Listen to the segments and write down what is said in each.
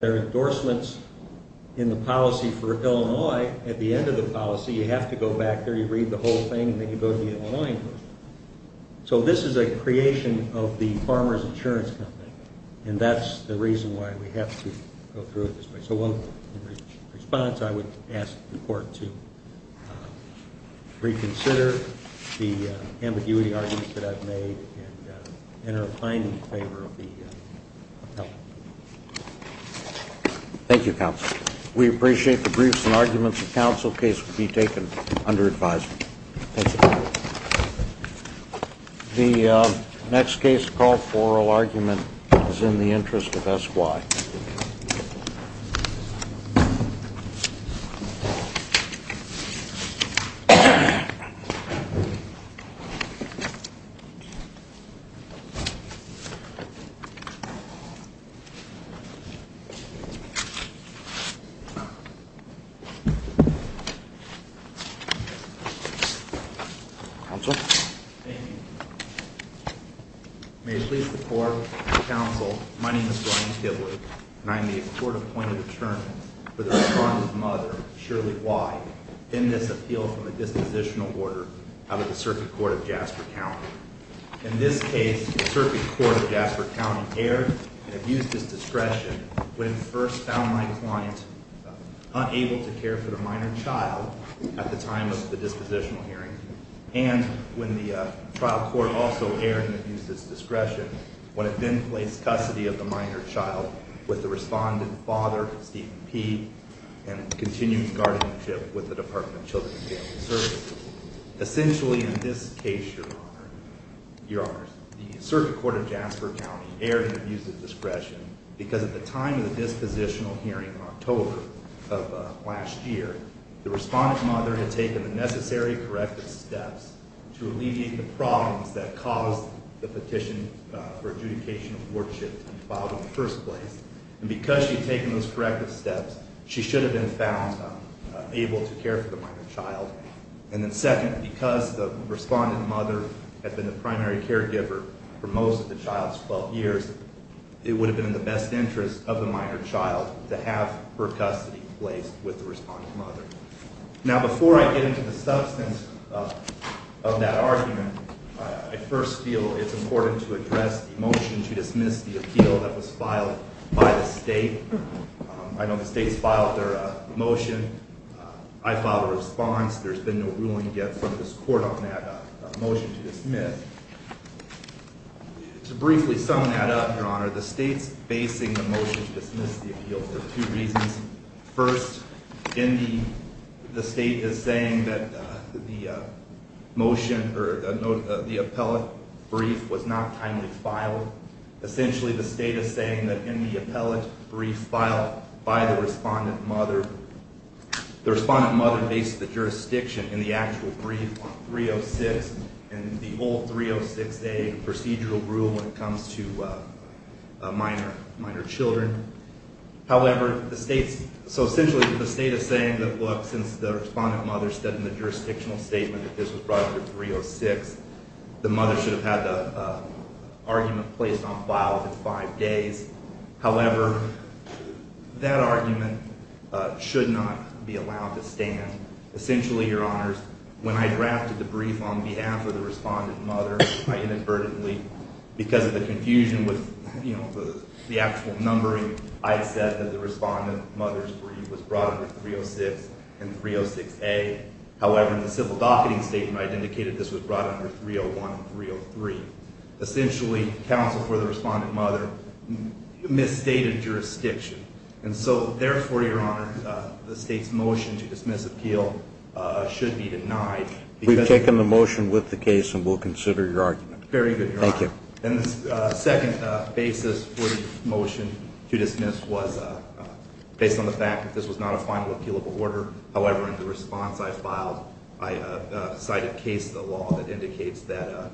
There are endorsements in the policy for Illinois. At the end of the policy, you have to go back there, you read the whole thing, and then you go to the Illinois Enforcement Committee. So this is a creation of the Farmers Insurance Company, and that's the reason why we have to go through it this way. So in response, I would ask the Court to reconsider the ambiguity arguments that I've made and enter a fine in favor of the help. Thank you, Counsel. We appreciate the briefs and arguments. The counsel case will be taken under advisory. The next case called Foral Argument is in the interest of S.Y. Counsel. Thank you. May it please the Court and the Counsel, my name is Ryan Kibbley, and I am the court-appointed attorney for the farm's mother, Shirley Y., in this appeal for the dispositional order out of the Circuit Court of Jasper County. In this case, the Circuit Court of Jasper County erred and abused its discretion when it first found my client unable to care for the minor child at the time of the dispositional hearing, and when the trial court also erred and abused its discretion when it then placed custody of the minor child with the respondent father, Stephen P., and continued guardianship with the Department of Children and Family Services. Essentially, in this case, Your Honors, the Circuit Court of Jasper County erred and abused its discretion because at the time of the dispositional hearing in October of last year, the respondent mother had taken the necessary corrective steps to alleviate the problems that caused the petition for adjudication of work shift to be filed in the first place. And because she had taken those corrective steps, she should have been found able to care for the minor child. And then second, because the respondent mother had been the primary caregiver for most of the child's 12 years, it would have been in the best interest of the minor child to have her custody replaced with the respondent mother. Now, before I get into the substance of that argument, I first feel it's important to address the motion to dismiss the appeal that was filed by the state. I know the state's filed their motion. I filed a response. There's been no ruling yet from this court on that motion to dismiss. To briefly sum that up, Your Honor, the state's basing the motion to dismiss the appeal for two reasons. First, the state is saying that the motion or the appellate brief was not timely filed. Essentially, the state is saying that in the appellate brief filed by the respondent mother, the respondent mother based the jurisdiction in the actual brief on 306 and the old 306A procedural rule when it comes to minor children. However, so essentially the state is saying that look, since the respondent mother said in the jurisdictional statement that this was brought up to 306, the mother should have had the argument placed on file within five days. However, that argument should not be allowed to stand. Essentially, Your Honors, when I drafted the brief on behalf of the respondent mother, I inadvertently, because of the confusion with the actual numbering, I said that the respondent mother's brief was brought under 306 and 306A. However, in the civil docketing statement, I indicated this was brought under 301 and 303. Essentially, counsel for the respondent mother misstated jurisdiction. And so therefore, Your Honor, the state's motion to dismiss appeal should be denied. We've taken the motion with the case and will consider your argument. Very good, Your Honor. Thank you. And the second basis for the motion to dismiss was based on the fact that this was not a final appealable order. However, in the response I filed, I cited case of the law that indicates that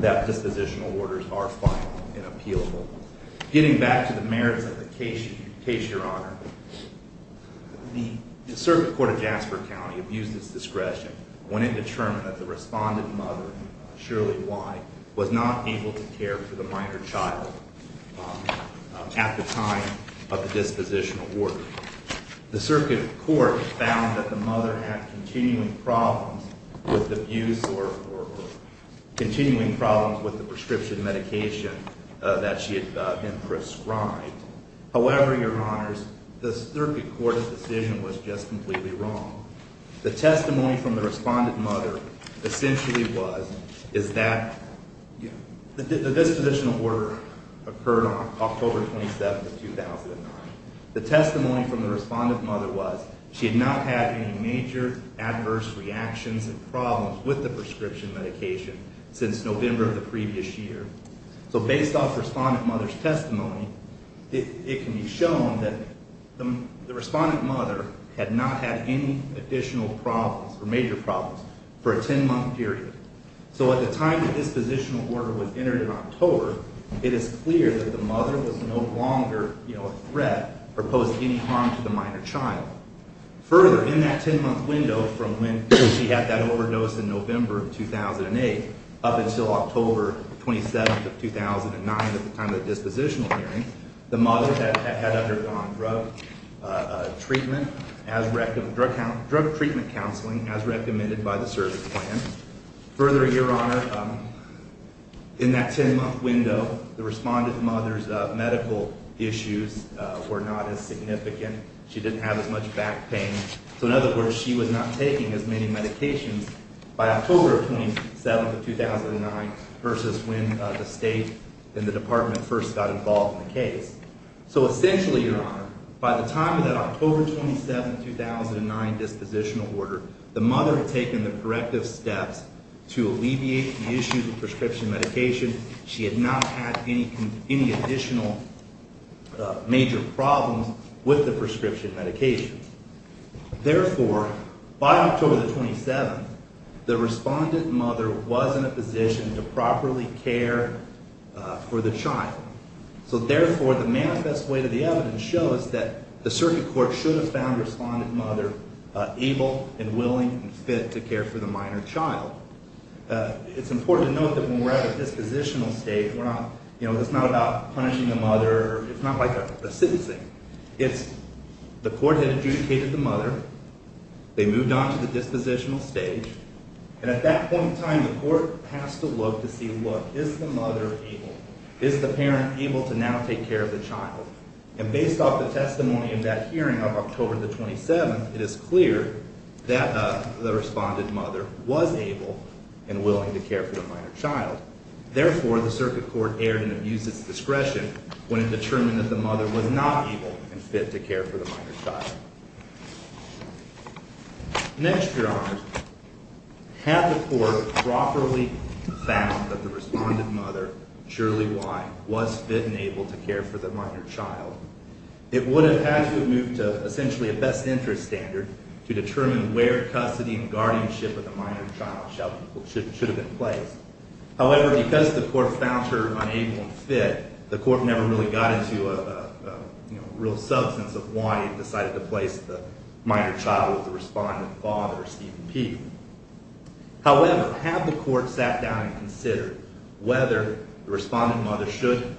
dispositional orders are final and appealable. Getting back to the merits of the case, Your Honor, the circuit court of Jasper County abused its discretion when it determined that the respondent mother, Shirley Y., was not able to care for the minor child at the time of the dispositional order. The circuit court found that the mother had continuing problems with the prescription medication that she had been prescribed. However, Your Honors, the circuit court's decision was just completely wrong. The testimony from the respondent mother essentially was that the dispositional order occurred on October 27, 2009. The testimony from the respondent mother was she had not had any major adverse reactions and problems with the prescription medication since November of the previous year. So based off the respondent mother's testimony, it can be shown that the respondent mother had not had any additional problems or major problems for a 10-month period. So at the time the dispositional order was entered in October, it is clear that the mother was no longer a threat or posed any harm to the minor child. Further, in that 10-month window from when she had that overdose in November of 2008 up until October 27 of 2009 at the time of the dispositional hearing, the mother had undergone drug treatment counseling as recommended by the service plan. Further, Your Honor, in that 10-month window, the respondent mother's medical issues were not as significant. She didn't have as much back pain. So in other words, she was not taking as many medications by October 27 of 2009 versus when the State and the Department first got involved in the case. So essentially, Your Honor, by the time of that October 27, 2009 dispositional order, the mother had taken the corrective steps to alleviate the issues of prescription medication. She had not had any additional major problems with the prescription medication. Therefore, by October 27, the respondent mother was in a position to properly care for the child. So therefore, the manifest way to the evidence shows that the circuit court should have found the respondent mother able and willing and fit to care for the minor child. It's important to note that when we're at a dispositional stage, it's not about punishing the mother. It's not like a sentencing. It's the court had adjudicated the mother. They moved on to the dispositional stage. And at that point in time, the court has to look to see, look, is the mother able? Is the parent able to now take care of the child? And based off the testimony of that hearing of October the 27th, it is clear that the respondent mother was able and willing to care for the minor child. Therefore, the circuit court erred and abused its discretion when it determined that the mother was not able and fit to care for the minor child. Next, Your Honor, had the court properly found that the respondent mother, surely why, was fit and able to care for the minor child, it would have had to have moved to essentially a best interest standard to determine where custody and guardianship of the minor child should have been placed. However, because the court found her unable and fit, the court never really got into a real substance of why it decided to place the minor child with the respondent father, Stephen P. However, had the court sat down and considered whether the respondent mother should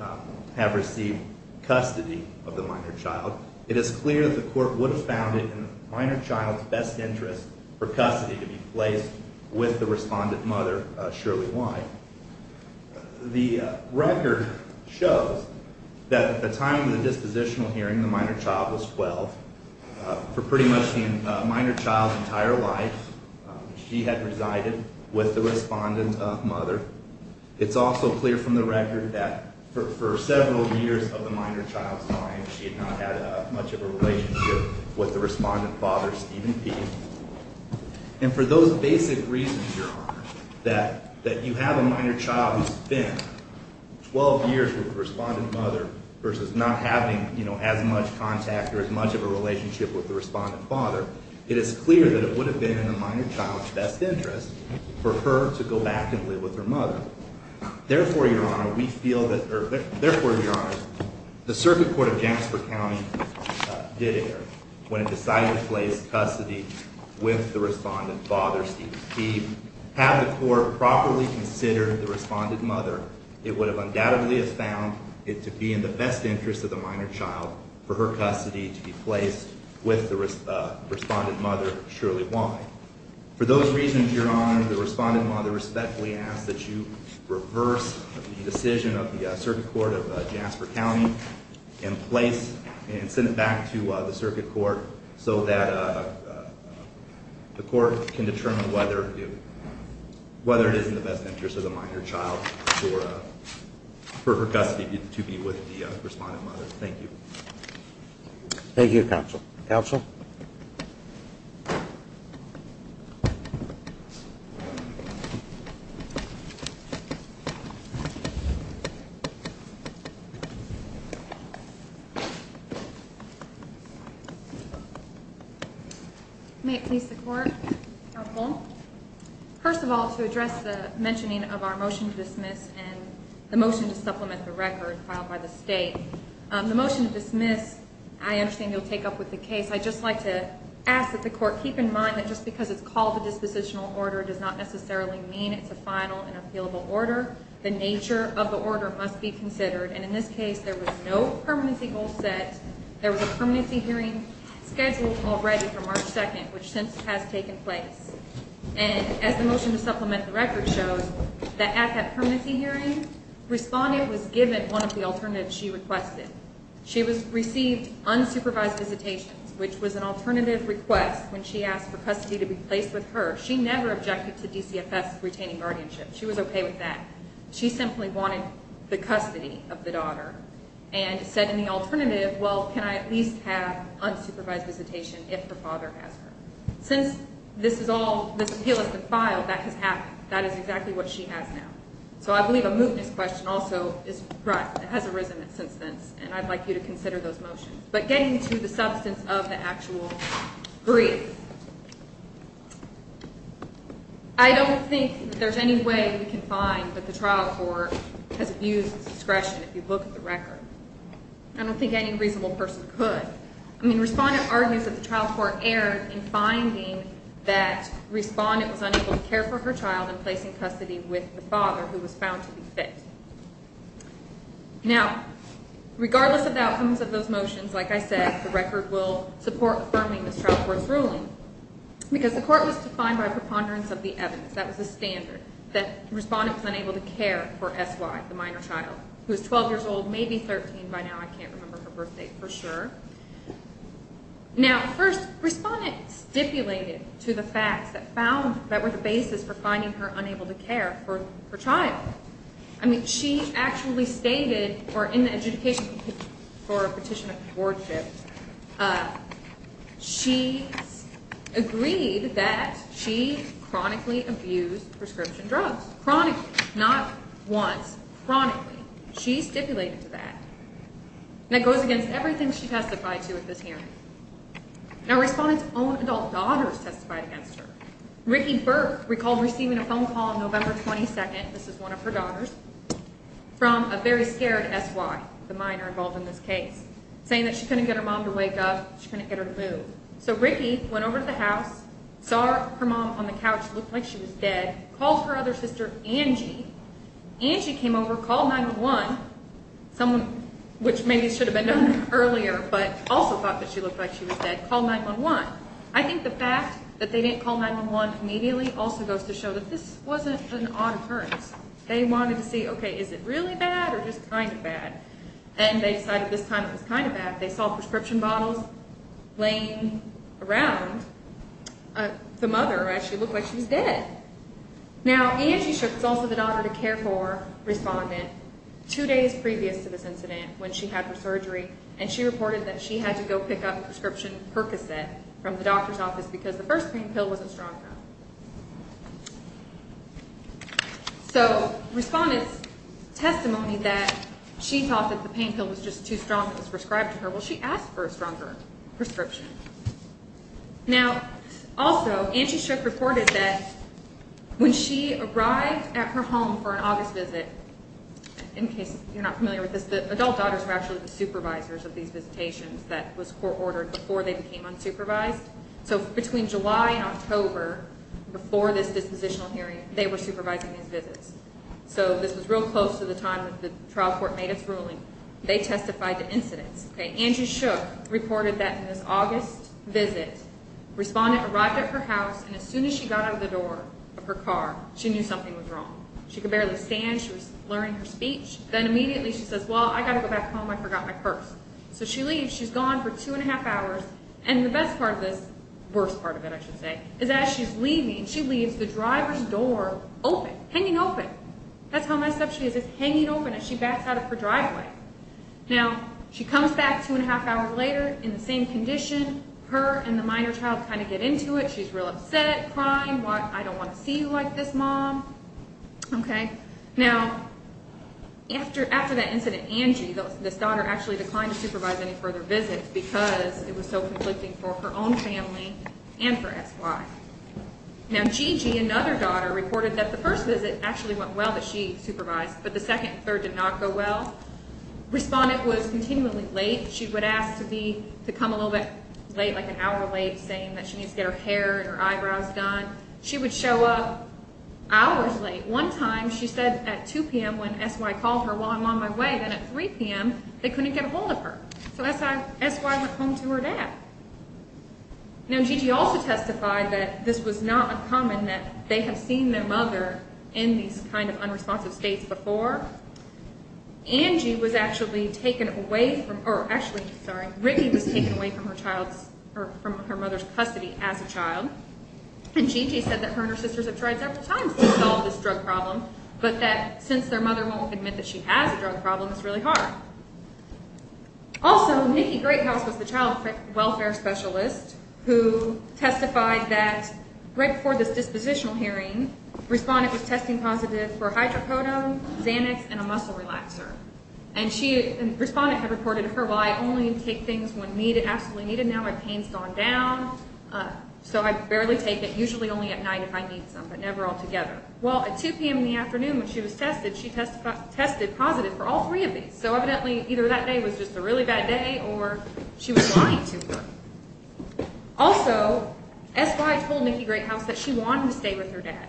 have received custody of the minor child, it is clear that the court would have found it in the minor child's best interest for custody to be placed with the respondent mother, surely why. The record shows that at the time of the dispositional hearing, the minor child was 12. For pretty much the minor child's entire life, she had resided with the respondent mother. It's also clear from the record that for several years of the minor child's life, she had not had much of a relationship with the respondent father, Stephen P. And for those basic reasons, Your Honor, that you have a minor child who spent 12 years with the respondent mother versus not having as much contact or as much of a relationship with the respondent father, it is clear that it would have been in the minor child's best interest for her to go back and live with her mother. Therefore, Your Honor, we feel that, or therefore, Your Honor, the circuit court of Jasper County did err when it decided to place custody with the respondent father, Stephen P. Had the court properly considered the respondent mother, it would have undoubtedly have found it to be in the best interest of the minor child for her custody to be placed with the respondent mother, surely why. For those reasons, Your Honor, the respondent mother respectfully asks that you reverse the decision of the circuit court of Jasper County in place and send it back to the circuit court so that the court can determine whether it is in the best interest of the minor child for her custody to be with the respondent mother. Thank you. Thank you, Counsel. Counsel? May it please the Court. Counsel. First of all, to address the mentioning of our motion to dismiss and the motion to supplement the record filed by the State, the motion to dismiss, I understand you'll take up with the case. I'd just like to ask that the Court keep in mind that just because it's called a dispositional order does not necessarily mean it's a final and appealable order. The nature of the order must be considered, and in this case there was no permanency goal set. There was a permanency hearing scheduled already for March 2nd, which since has taken place. And as the motion to supplement the record shows, that at that permanency hearing, respondent was given one of the alternatives she requested. She received unsupervised visitations, which was an alternative request when she asked for custody to be placed with her. She never objected to DCFS retaining guardianship. She was okay with that. She simply wanted the custody of the daughter and said in the alternative, well, can I at least have unsupervised visitation if her father has her? Since this appeal has been filed, that has happened. That is exactly what she has now. So I believe a mootness question also has arisen since then, and I'd like you to consider those motions. But getting to the substance of the actual grief, I don't think there's any way we can find that the trial court has abused discretion if you look at the record. I don't think any reasonable person could. I mean, respondent argues that the trial court erred in finding that respondent was unable to care for her child and placing custody with the father who was found to be fit. Now, regardless of the outcomes of those motions, like I said, the record will support affirming this trial court's ruling, because the court was defined by preponderance of the evidence. That was the standard, that the respondent was unable to care for SY, the minor child, who was 12 years old, maybe 13 by now. I can't remember her birth date for sure. Now, first, respondent stipulated to the facts that were the basis for finding her unable to care for her child. I mean, she actually stated, or in the adjudication for a petition of courtship, she agreed that she chronically abused prescription drugs. Chronically, not once. Chronically. She stipulated to that. And it goes against everything she testified to at this hearing. Now, respondent's own adult daughter has testified against her. Rikki Burke recalled receiving a phone call on November 22nd, this is one of her daughters, from a very scared SY, the minor involved in this case, saying that she couldn't get her mom to wake up, she couldn't get her to move. So Rikki went over to the house, saw her mom on the couch, looked like she was dead, called her other sister Angie. Angie came over, called 911, someone which maybe should have been done earlier, but also thought that she looked like she was dead, called 911. I think the fact that they didn't call 911 immediately also goes to show that this wasn't an odd occurrence. They wanted to see, okay, is it really bad or just kind of bad? And they decided this time it was kind of bad. They saw prescription bottles laying around. The mother actually looked like she was dead. Now, Angie Shook, who's also the daughter to care for respondent, two days previous to this incident, when she had her surgery, and she reported that she had to go pick up a prescription percocet from the doctor's office because the first pain pill wasn't strong enough. So respondent's testimony that she thought that the pain pill was just too strong and was prescribed to her, well, she asked for a stronger prescription. Now, also, Angie Shook reported that when she arrived at her home for an August visit, in case you're not familiar with this, the adult daughters were actually the supervisors of these visitations. That was court-ordered before they became unsupervised. So between July and October, before this dispositional hearing, they were supervising these visits. So this was real close to the time that the trial court made its ruling. They testified to incidents. Angie Shook reported that in this August visit, respondent arrived at her house, and as soon as she got out of the door of her car, she knew something was wrong. She could barely stand. She was blurring her speech. Then immediately she says, well, I've got to go back home. I forgot my purse. So she leaves. She's gone for two and a half hours, and the best part of this, the worst part of it, I should say, is as she's leaving, she leaves the driver's door open, hanging open. That's how messed up she is, is hanging open as she backs out of her driveway. Now, she comes back two and a half hours later in the same condition. Her and the minor child kind of get into it. She's real upset, crying. Why? I don't want to see you like this, Mom. Okay? Now, after that incident, Angie, this daughter, actually declined to supervise any further visits because it was so conflicting for her own family and for XY. Now, Gigi, another daughter, reported that the first visit actually went well, that she supervised, but the second and third did not go well. Respondent was continually late. She would ask to come a little bit late, like an hour late, saying that she needs to get her hair and her eyebrows done. She would show up hours late. One time, she said at 2 p.m. when XY called her, while I'm on my way, then at 3 p.m. they couldn't get a hold of her. So that's why XY went home to her dad. Now, Gigi also testified that this was not uncommon, that they had seen their mother in these kind of unresponsive states before. Angie was actually taken away from, or actually, sorry, Ricky was taken away from her child's, or from her mother's custody as a child. And Gigi said that her and her sisters have tried several times to solve this drug problem, but that since their mother won't admit that she has a drug problem, it's really hard. Also, Nikki Greathouse was the child welfare specialist who testified that right before this dispositional hearing, Respondent was testing positive for hydrocodone, Xanax, and a muscle relaxer. And Respondent had reported to her, well, I only take things when absolutely needed. Now my pain's gone down, so I barely take it, usually only at night if I need some, but never altogether. Well, at 2 p.m. in the afternoon when she was tested, she tested positive for all three of these. So evidently, either that day was just a really bad day, or she was lying to her. Also, XY told Nikki Greathouse that she wanted to stay with her dad.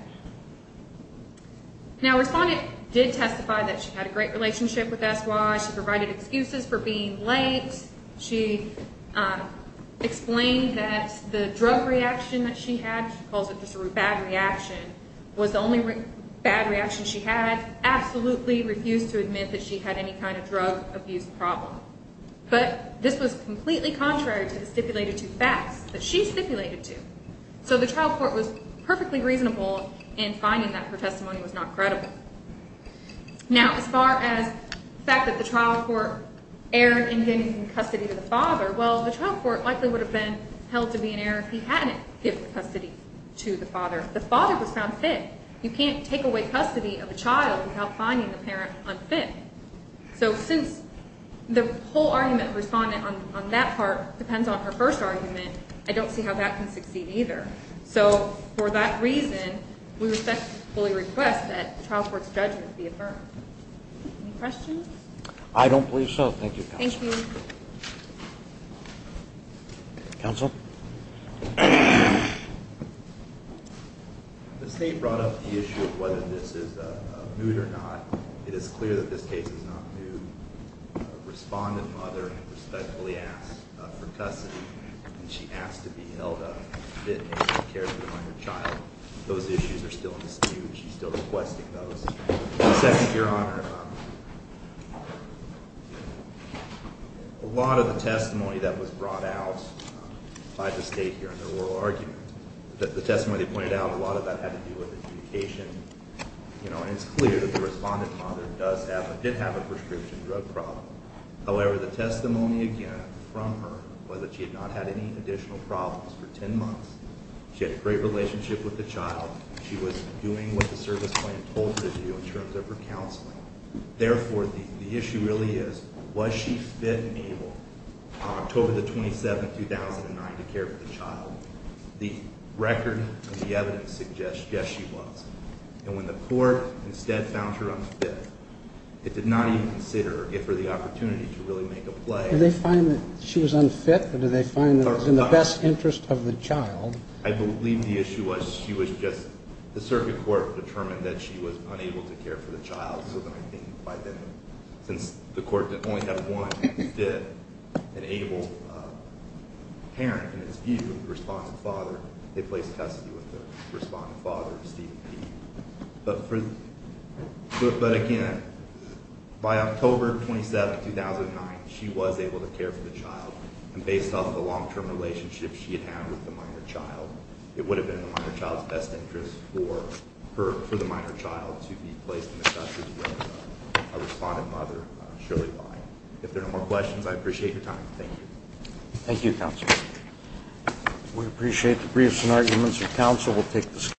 Now Respondent did testify that she had a great relationship with XY. She provided excuses for being late. She explained that the drug reaction that she had, she calls it just a bad reaction, was the only bad reaction she had. Absolutely refused to admit that she had any kind of drug abuse problem. But this was completely contrary to the stipulated two facts that she stipulated to. So the trial court was perfectly reasonable in finding that her testimony was not credible. Now, as far as the fact that the trial court erred in getting custody of the father, well, the trial court likely would have been held to be in error if he hadn't given custody to the father. The father was found fit. You can't take away custody of a child without finding the parent unfit. So since the whole argument of Respondent on that part depends on her first argument, I don't see how that can succeed either. So for that reason, we respectfully request that the trial court's judgment be affirmed. Any questions? I don't believe so. Thank you, Counsel. Thank you. Counsel? The State brought up the issue of whether this is a moot or not. It is clear that this case is not moot. Respondent's mother respectfully asked for custody, and she asked to be held a fit and cared for by her child. Those issues are still in dispute. She's still requesting those. Second, Your Honor, a lot of the testimony that was brought out by the State here in their oral argument, the testimony they pointed out, a lot of that had to do with adjudication. It's clear that the Respondent's mother did have a prescription drug problem. However, the testimony again from her was that she had not had any additional problems for 10 months. She had a great relationship with the child. She was doing what the service plan told her to do in terms of her counseling. Therefore, the issue really is, was she fit and able on October 27, 2009, to care for the child? The record of the evidence suggests, yes, she was. And when the court instead found her unfit, it did not even consider it for the opportunity to really make a play. Did they find that she was unfit, or did they find that it was in the best interest of the child? I believe the issue was she was just – the circuit court determined that she was unable to care for the child. So then I think by then, since the court only had one fit and able parent in its view, the Respondent's father, they placed custody with the Respondent's father, Stephen P. But again, by October 27, 2009, she was able to care for the child. And based off the long-term relationship she had had with the minor child, it would have been in the minor child's best interest for the minor child to be placed in the custody of a Respondent's mother, Shirley Lai. If there are no more questions, I appreciate your time. Thank you. Thank you, Counsel. We appreciate the briefs and arguments of counsel.